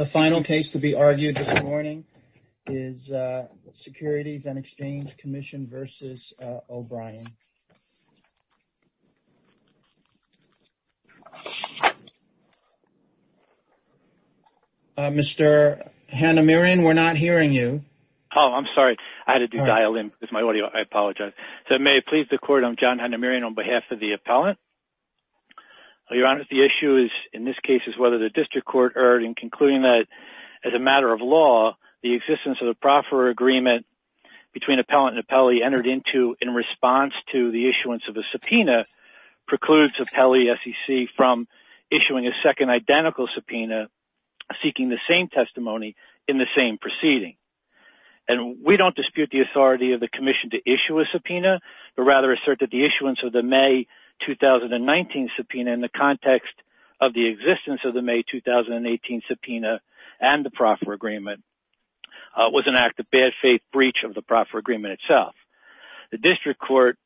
The final case to be argued this morning is Securities and Exchange Commission v. O'Brien. Mr. Hanamirian, we're not hearing you. Oh, I'm sorry. I had to dial in. It's my audio. I apologize. So may I please the court, I'm John Hanamirian on behalf of the appellant. Your Honor, the issue is, in this case, is whether the district court erred in concluding that as a matter of law, the existence of the proffer agreement between appellant and appellee entered into in response to the issuance of a subpoena precludes appellee SEC from issuing a second identical subpoena seeking the same testimony in the same proceeding. And we don't dispute the authority of the commission to issue a subpoena, but rather assert that the issuance of the May 2019 subpoena in the context of the existence of the May 2018 subpoena and the proffer agreement was an act of bad faith breach of the proffer agreement itself. The district court,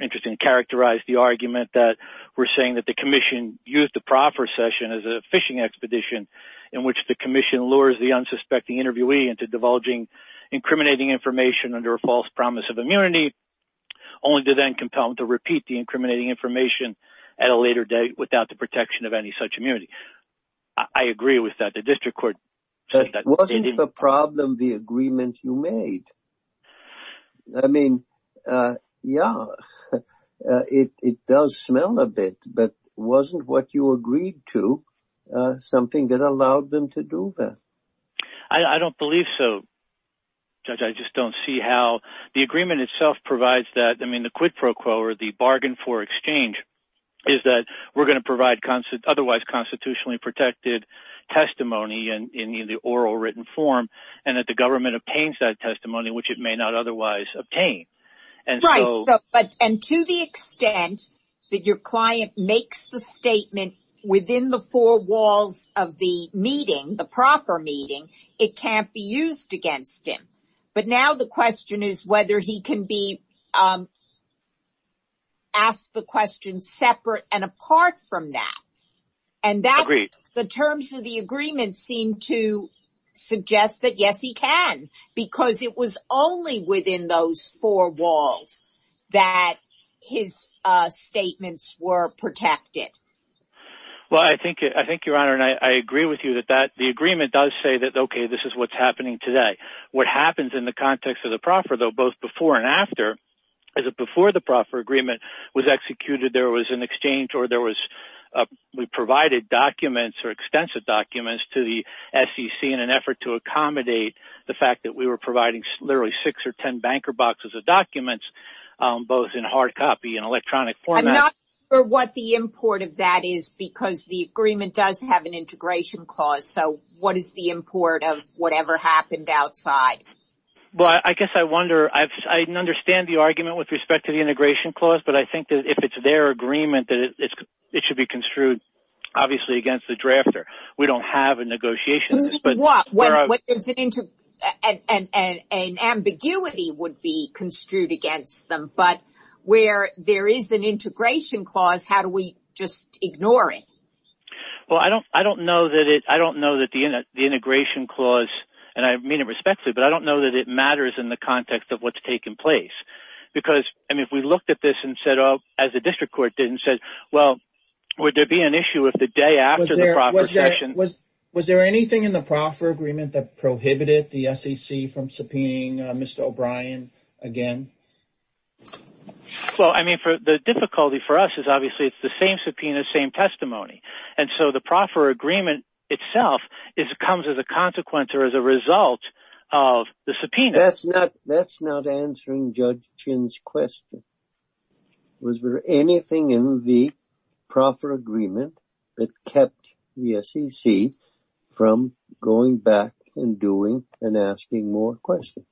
interesting, characterized the argument that we're saying that the commission used the proffer session as a fishing expedition in which the commission lures the unsuspecting interviewee into divulging incriminating information under a false promise of immunity, only to then compel them to repeat the incriminating information at a later date without the protection of any such immunity. I agree with that. The district court said that they didn't... Wasn't the problem the agreement you made? I mean, yeah, it does smell a bit, but wasn't what you agreed to something that allowed them to do that? I don't believe so, Judge. I just don't see how... The agreement itself provides that. I mean, the quid pro quo or the bargain for exchange is that we're going to provide otherwise constitutionally protected testimony in either oral or written form, and that the government obtains that testimony, which it may not otherwise obtain. Right, and to the extent that your client makes the statement within the four walls of the meeting, the proffer meeting, it can't be used against him. But now the question is whether he can be asked the question separate and apart from that. Agreed. And that... The terms of the agreement seem to suggest that, yes, he can, because it was only within those four walls that his statements were protected. Well, I think, Your Honor, and I agree with you that the agreement does say that, okay, this is what's happening today. What happens in the context of the proffer, though, both before and after, is that before the proffer agreement was executed, there was an exchange or there was... We provided documents or extensive documents to the SEC in an effort to accommodate the fact that we were providing literally six or ten banker boxes of documents, both in hard copy and electronic format. I'm not sure what the import of that is, because the agreement does have an integration clause, so what is the import of whatever happened outside? Well, I guess I wonder... I understand the argument with respect to the integration clause, but I think that if it's their agreement, that it should be construed, obviously, against the drafter. We don't have a negotiation, but... What? There's an... An ambiguity would be construed against them. But where there is an integration clause, how do we just ignore it? Well, I don't know that the integration clause, and I mean it respectfully, but I don't know that it matters in the context of what's taken place, because, I mean, if we looked at this and said, as the district court did, and said, well, would there be an issue if the day after the proffer session... Was there anything in the proffer agreement that prohibited the SEC from subpoenaing Mr. O'Brien again? Well, I mean, the difficulty for us is, obviously, it's the same subpoena, same testimony. And so the proffer agreement itself comes as a consequence or as a result of the subpoena. That's not answering Judge Chin's question. Was there anything in the proffer agreement that kept the SEC from going back and doing and asking more questions?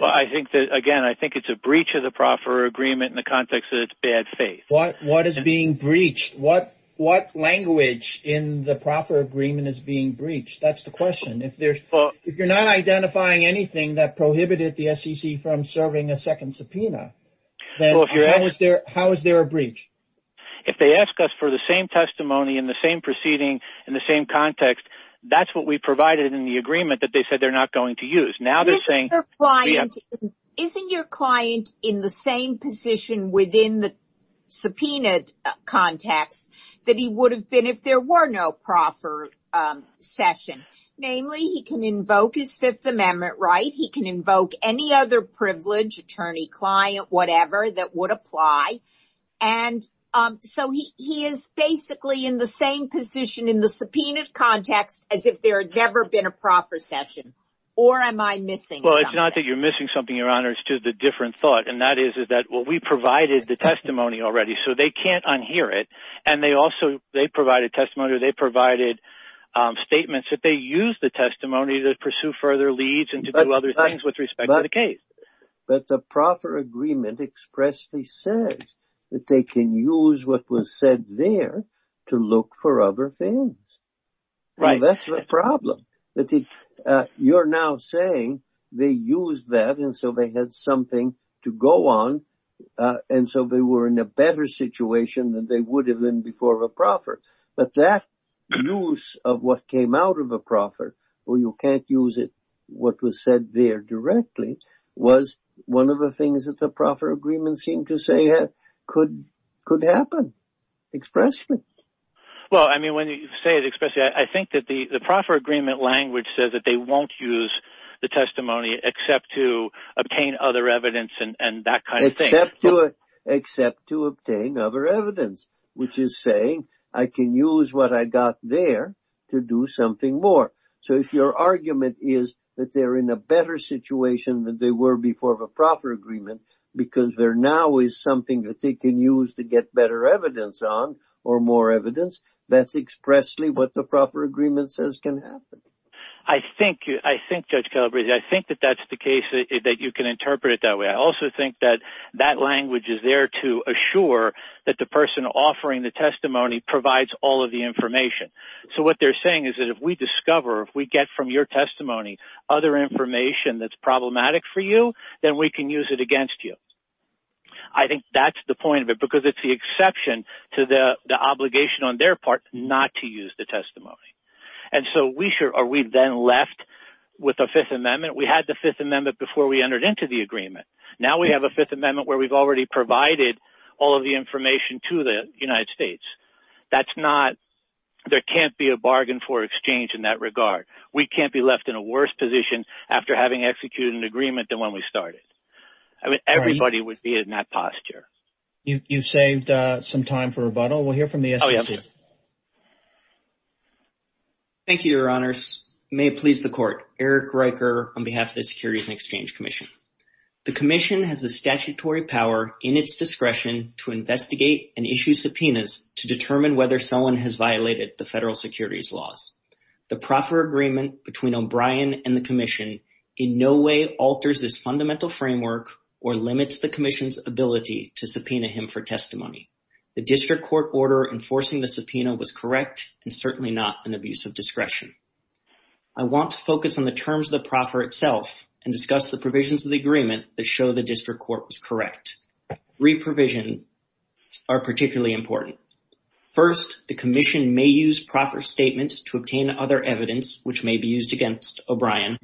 Well, I think that, again, I think it's a breach of the proffer agreement in the context of its bad faith. What is being breached? What language in the proffer agreement is being breached? That's the question. If you're not identifying anything that prohibited the SEC from serving a second subpoena, then how is there a breach? If they ask us for the same testimony in the same proceeding in the same context, that's what we provided in the agreement that they said they're not going to use. Isn't your client in the same position within the subpoenaed context that he would have been if there were no proffer session? Namely, he can invoke his Fifth Amendment right. He can invoke any other privilege, attorney, client, whatever, that would apply. And so he is basically in the same position in the subpoenaed context as if there had never been a proffer session. Or am I missing something? Well, it's not that you're missing something, Your Honor, it's just a different thought. And that is that we provided the testimony already, so they can't unhear it. And they also, they provided testimony or they provided statements that they used the testimony to pursue further leads and to do other things with respect to the case. But the proffer agreement expressly says that they can use what was said there to look for other things. Right. Well, that's the problem. That you're now saying they used that, and so they had something to go on. And so they were in a better situation than they would have been before a proffer. But that use of what came out of a proffer, where you can't use it, what was said there directly, was one of the things that the proffer agreement seemed to say could happen, expressly. Well, I mean, when you say it expressly, I think that the proffer agreement language says that they won't use the testimony except to obtain other evidence and that kind of thing. Except to obtain other evidence, which is saying I can use what I got there to do something more. So if your argument is that they're in a better situation than they were before the proffer agreement because there now is something that they can use to get better evidence on or more evidence, that's expressly what the proffer agreement says can happen. I think, Judge Calabresi, I think that that's the case, that you can interpret it that way. I also think that that language is there to assure that the person offering the testimony provides all of the information. So what they're saying is that if we discover, if we get from your testimony other information that's problematic for you, then we can use it against you. I think that's the point of it, because it's the exception to the obligation on their part not to use the testimony. And so we then left with a Fifth Amendment. We had the Fifth Amendment before we entered into the agreement. Now we have a Fifth Amendment where we've already provided all of the information to the United States. That's not, there can't be a bargain for exchange in that regard. We can't be left in a worse position after having executed an agreement than when we started. I mean, everybody would be in that posture. You've saved some time for rebuttal. We'll hear from the S.E.C. Thank you, Your Honors. May it please the Court, Eric Riker on behalf of the Securities and Exchange Commission. The Commission has the statutory power in its discretion to investigate and issue subpoenas to determine whether someone has violated the federal securities laws. The proffer agreement between O'Brien and the Commission in no way alters this fundamental framework or limits the Commission's ability to subpoena him for testimony. The district court order enforcing the subpoena was correct and certainly not an abuse of discretion. I want to focus on the terms of the proffer itself and discuss the provisions of the agreement that show the district court was correct. Reprovision are particularly important. First, the Commission may use proffer statements to obtain other evidence which may be used against O'Brien.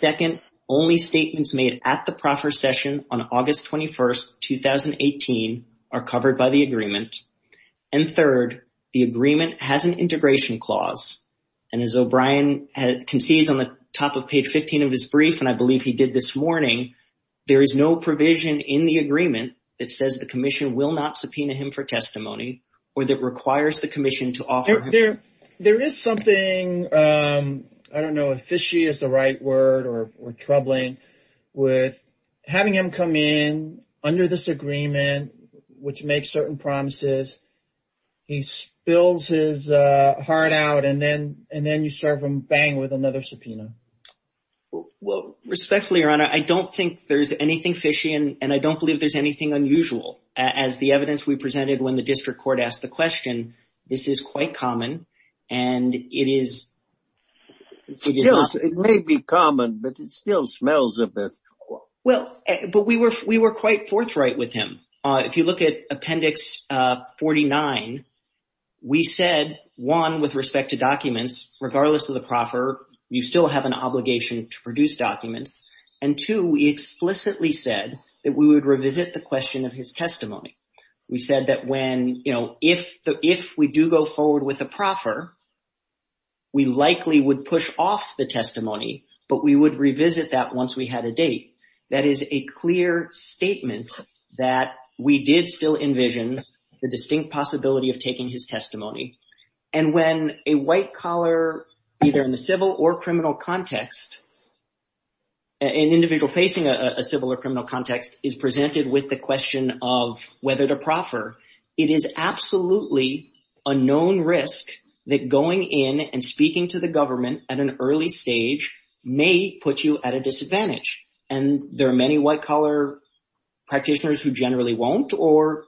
Second, only statements made at the proffer session on August 21st, 2018 are covered by the agreement. And third, the agreement has an integration clause. And as O'Brien concedes on the top of page 15 of his brief, and I believe he did this morning, there is no provision in the agreement that says the Commission will not subpoena him for testimony or that requires the Commission to offer. There is something, I don't know if fishy is the right word or troubling, with having him come in under this agreement, which makes certain promises, he spills his heart out and then you serve him bang with another subpoena. Well, respectfully, Your Honor, I don't think there's anything fishy and I don't believe there's anything unusual. As the evidence we presented when the district court asked the question, this is quite common and it is. It may be common, but it still smells of it. Well, but we were quite forthright with him. If you look at Appendix 49, we said, one, with respect to documents, regardless of the proffer, you still have an obligation to produce documents. And two, we explicitly said that we would revisit the question of his testimony. We said that when, you know, if we do go forward with the proffer, we likely would push off the testimony, but we would revisit that once we had a date. That is a clear statement that we did still envision the distinct possibility of taking his testimony. And when a white collar, either in the civil or criminal context, an individual facing a civil or criminal context is presented with the question of whether to proffer, it is absolutely a known risk that going in and speaking to the government at an early stage may put you at a disadvantage. And there are many white collar practitioners who generally won't. Or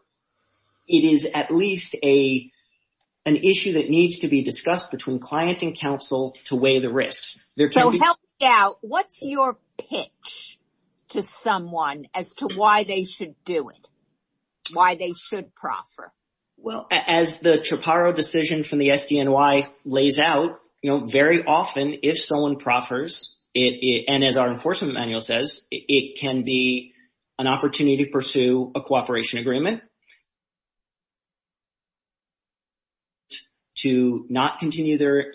it is at least an issue that needs to be discussed between client and counsel to weigh the risks. So help me out, what's your pitch to someone as to why they should do it, why they should proffer? Well, as the CHPARO decision from the SDNY lays out, you know, very often if someone proffers and as our enforcement manual says, it can be an opportunity to pursue a cooperation agreement, to not continue their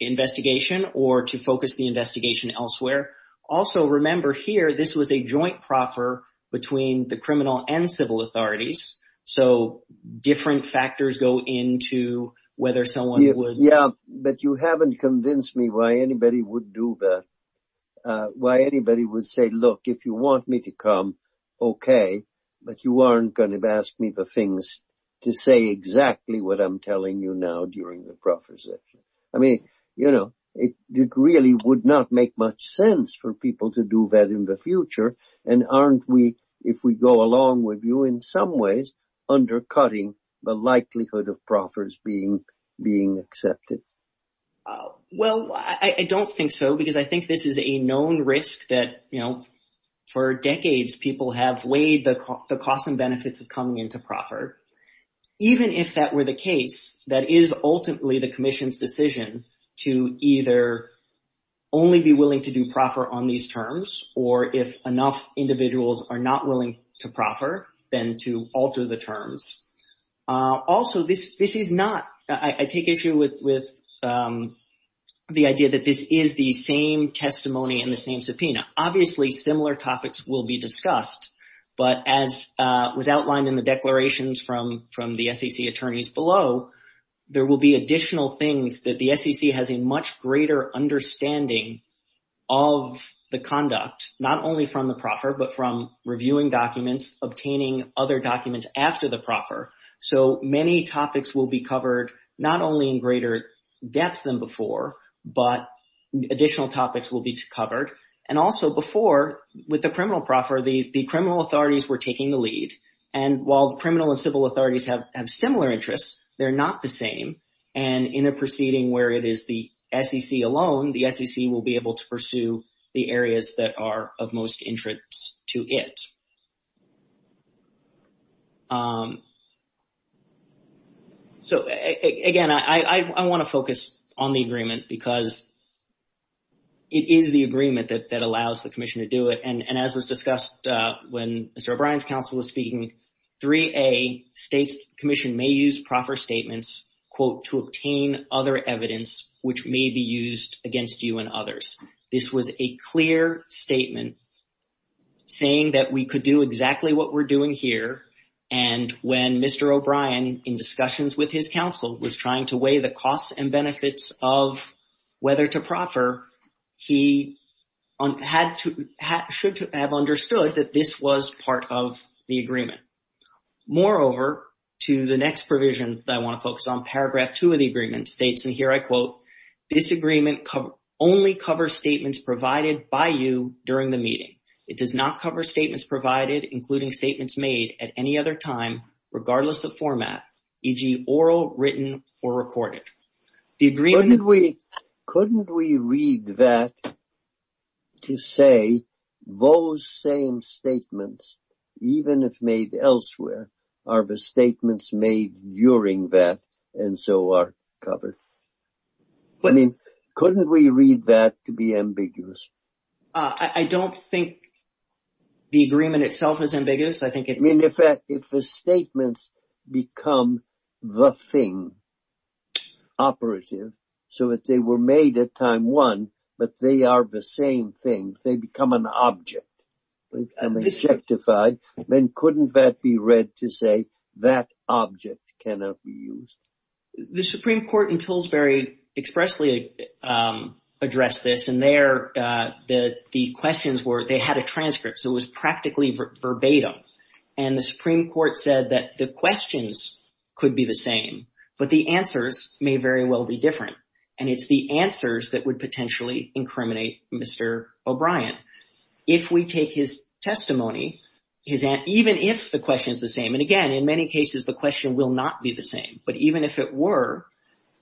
investigation, or to focus the investigation elsewhere. Also, remember here, this was a joint proffer between the criminal and civil authorities. So different factors go into whether someone would... Yeah, but you haven't convinced me why anybody would do that. Why anybody would say, look, if you want me to come, okay, but you aren't going to ask me the things to say exactly what I'm telling you now during the proffer session. I mean, you know, it really would not make much sense for people to do that in the future. And aren't we, if we go along with you, in some ways, undercutting the likelihood of proffers being accepted? Well, I don't think so, because I think this is a known risk that, you know, for decades, people have weighed the costs and benefits of coming into proffer. Even if that were the case, that is ultimately the commission's decision to either only be willing to do proffer on these terms, or if enough individuals are not willing to proffer, then to alter the terms. Also, this is not... I take issue with the idea that this is the same testimony and the same subpoena. Obviously, similar topics will be discussed. But as was outlined in the declarations from the SEC attorneys below, there will be additional things that the SEC has a much greater understanding of the conduct, not only from the proffer, but from reviewing documents, obtaining other documents after the proffer. So many topics will be covered, not only in greater depth than before, but additional topics will be covered. And also before, with the criminal proffer, the criminal authorities were taking the lead. And while the criminal and civil authorities have similar interests, they're not the same. And in a proceeding where it is the SEC alone, the SEC will be able to pursue the areas that are of most interest to it. So again, I want to focus on the agreement because it is the agreement that allows the commission to do it. And as was discussed when Mr. O'Brien's counsel was speaking, 3A states commission may use proffer statements, quote, to obtain other evidence, which may be used against you and others. This was a clear statement saying that we could do exactly what we're doing here. And when Mr. O'Brien, in discussions with his counsel, was trying to weigh the costs and benefits of whether to proffer, he should have understood that this was part of the agreement. Moreover, to the next provision that I want to focus on, paragraph two of the agreement states, and here I quote, this agreement only covers statements provided by you during the meeting. It does not cover statements provided, including statements made at any other time, regardless of format, e.g. oral, written, or recorded. Couldn't we read that to say those same statements, even if made elsewhere, are the statements made during that, and so are covered? I mean, couldn't we read that to be ambiguous? I don't think the agreement itself is ambiguous. I think it's... I mean, if the statements become the thing, operative, so that they were made at time one, but they are the same thing, they become an object, they become objectified, then couldn't that be read to say that object cannot be used? The Supreme Court in Pillsbury expressly addressed this, and there the questions were, they had a transcript, so it was practically verbatim, and the Supreme Court said that the questions could be the same, but the answers may very well be different, and it's the answers that If we take his testimony, even if the question is the same, and again, in many cases the question will not be the same, but even if it were,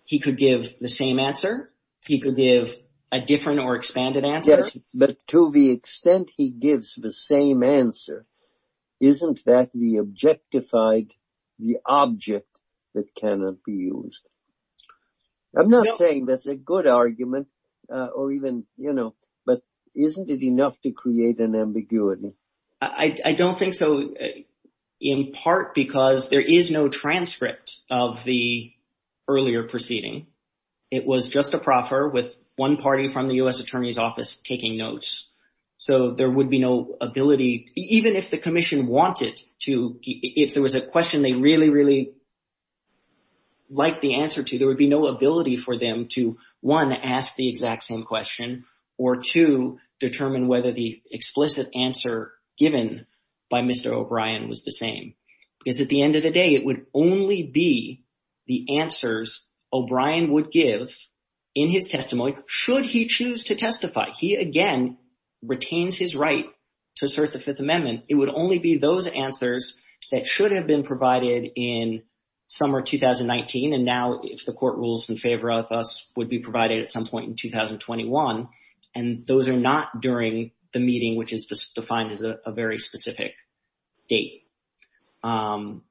he could give the same answer, he could give a different or expanded answer. Yes, but to the extent he gives the same answer, isn't that the objectified, the object that cannot be used? I'm not saying that's a good argument, or even, you know, but isn't it enough to create an ambiguity? I don't think so, in part because there is no transcript of the earlier proceeding. It was just a proffer with one party from the U.S. Attorney's Office taking notes. So there would be no ability, even if the Commission wanted to, if there was a question they really, really liked the answer to, there would be no ability for them to, one, ask the exact same question, or two, determine whether the explicit answer given by Mr. O'Brien was the same, because at the end of the day, it would only be the answers O'Brien would give in his testimony, should he choose to testify. He again retains his right to assert the Fifth Amendment. It would only be those answers that should have been provided in summer 2019, and now if the court rules in favor of us, would be provided at some point in 2021, and those are not during the meeting, which is defined as a very specific date. And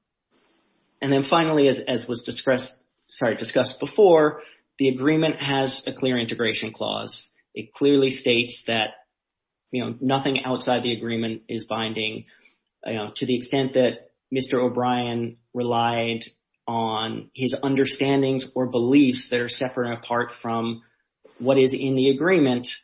then finally, as was discussed before, the agreement has a clear integration clause. It clearly states that, you know, nothing outside the agreement is binding. To the extent that Mr. O'Brien relied on his understandings or beliefs that are separate and apart from what is in the agreement,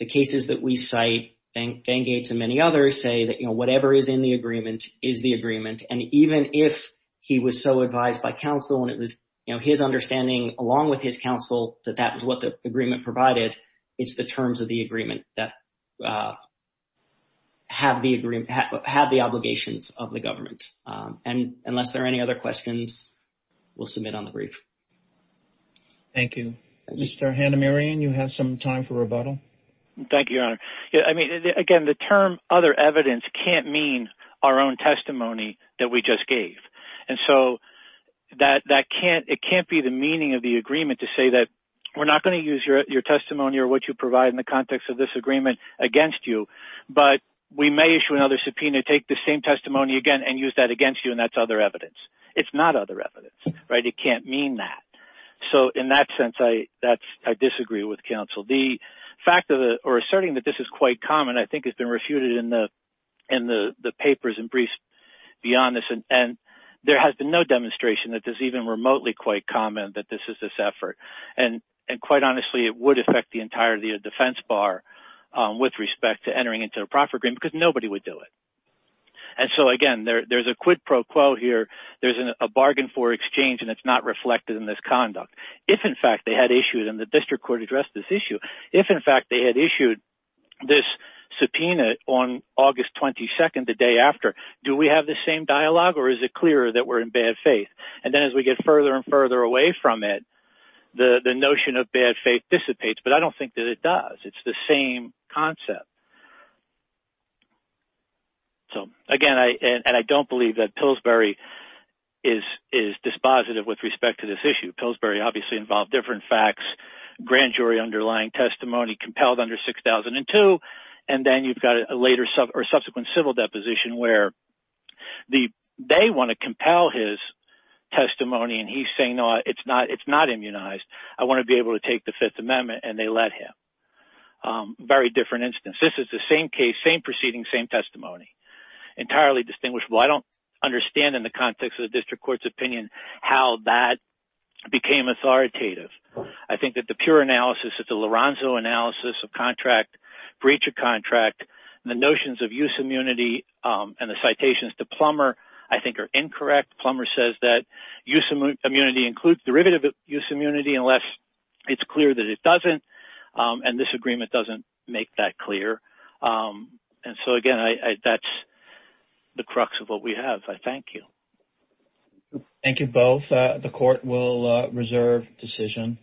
the cases that we cite, Van Gates and many others say that, you know, whatever is in the agreement is the agreement. And even if he was so advised by counsel and it was, you know, his understanding along with his counsel that that was what the agreement provided, it's the terms of the agreement that have the obligations of the government. And unless there are any other questions, we'll submit on the brief. Thank you. Mr. Hanamirian, you have some time for rebuttal. Thank you, Your Honor. I mean, again, the term other evidence can't mean our own testimony that we just gave. And so, it can't be the meaning of the agreement to say that we're not going to use your testimony or what you provide in the context of this agreement against you. But we may issue another subpoena, take the same testimony again, and use that against you, and that's other evidence. It's not other evidence, right? It can't mean that. So in that sense, I disagree with counsel. The fact or asserting that this is quite common, I think, has been refuted in the papers and there has been no demonstration that is even remotely quite common that this is this effort. And quite honestly, it would affect the entirety of defense bar with respect to entering into a profit agreement because nobody would do it. And so, again, there's a quid pro quo here. There's a bargain for exchange and it's not reflected in this conduct. If in fact they had issued, and the district court addressed this issue, if in fact they had issued this subpoena on August 22nd, the day after, do we have the same dialogue or is it clearer that we're in bad faith? And then as we get further and further away from it, the notion of bad faith dissipates. But I don't think that it does. It's the same concept. So, again, and I don't believe that Pillsbury is dispositive with respect to this issue. Pillsbury obviously involved different facts, grand jury underlying testimony compelled under 6002. And then you've got a subsequent civil deposition where they want to compel his testimony and he's saying, no, it's not immunized. I want to be able to take the Fifth Amendment and they let him. Very different instance. This is the same case, same proceeding, same testimony. Entirely distinguishable. I don't understand in the context of the district court's opinion how that became authoritative. I think that the pure analysis of the Lorenzo analysis of contract, breach of contract, the notions of use immunity and the citations to Plummer, I think are incorrect. Plummer says that use immunity includes derivative use immunity unless it's clear that it doesn't. And this agreement doesn't make that clear. And so, again, that's the crux of what we have. I thank you. Thank you both. The court will reserve decision.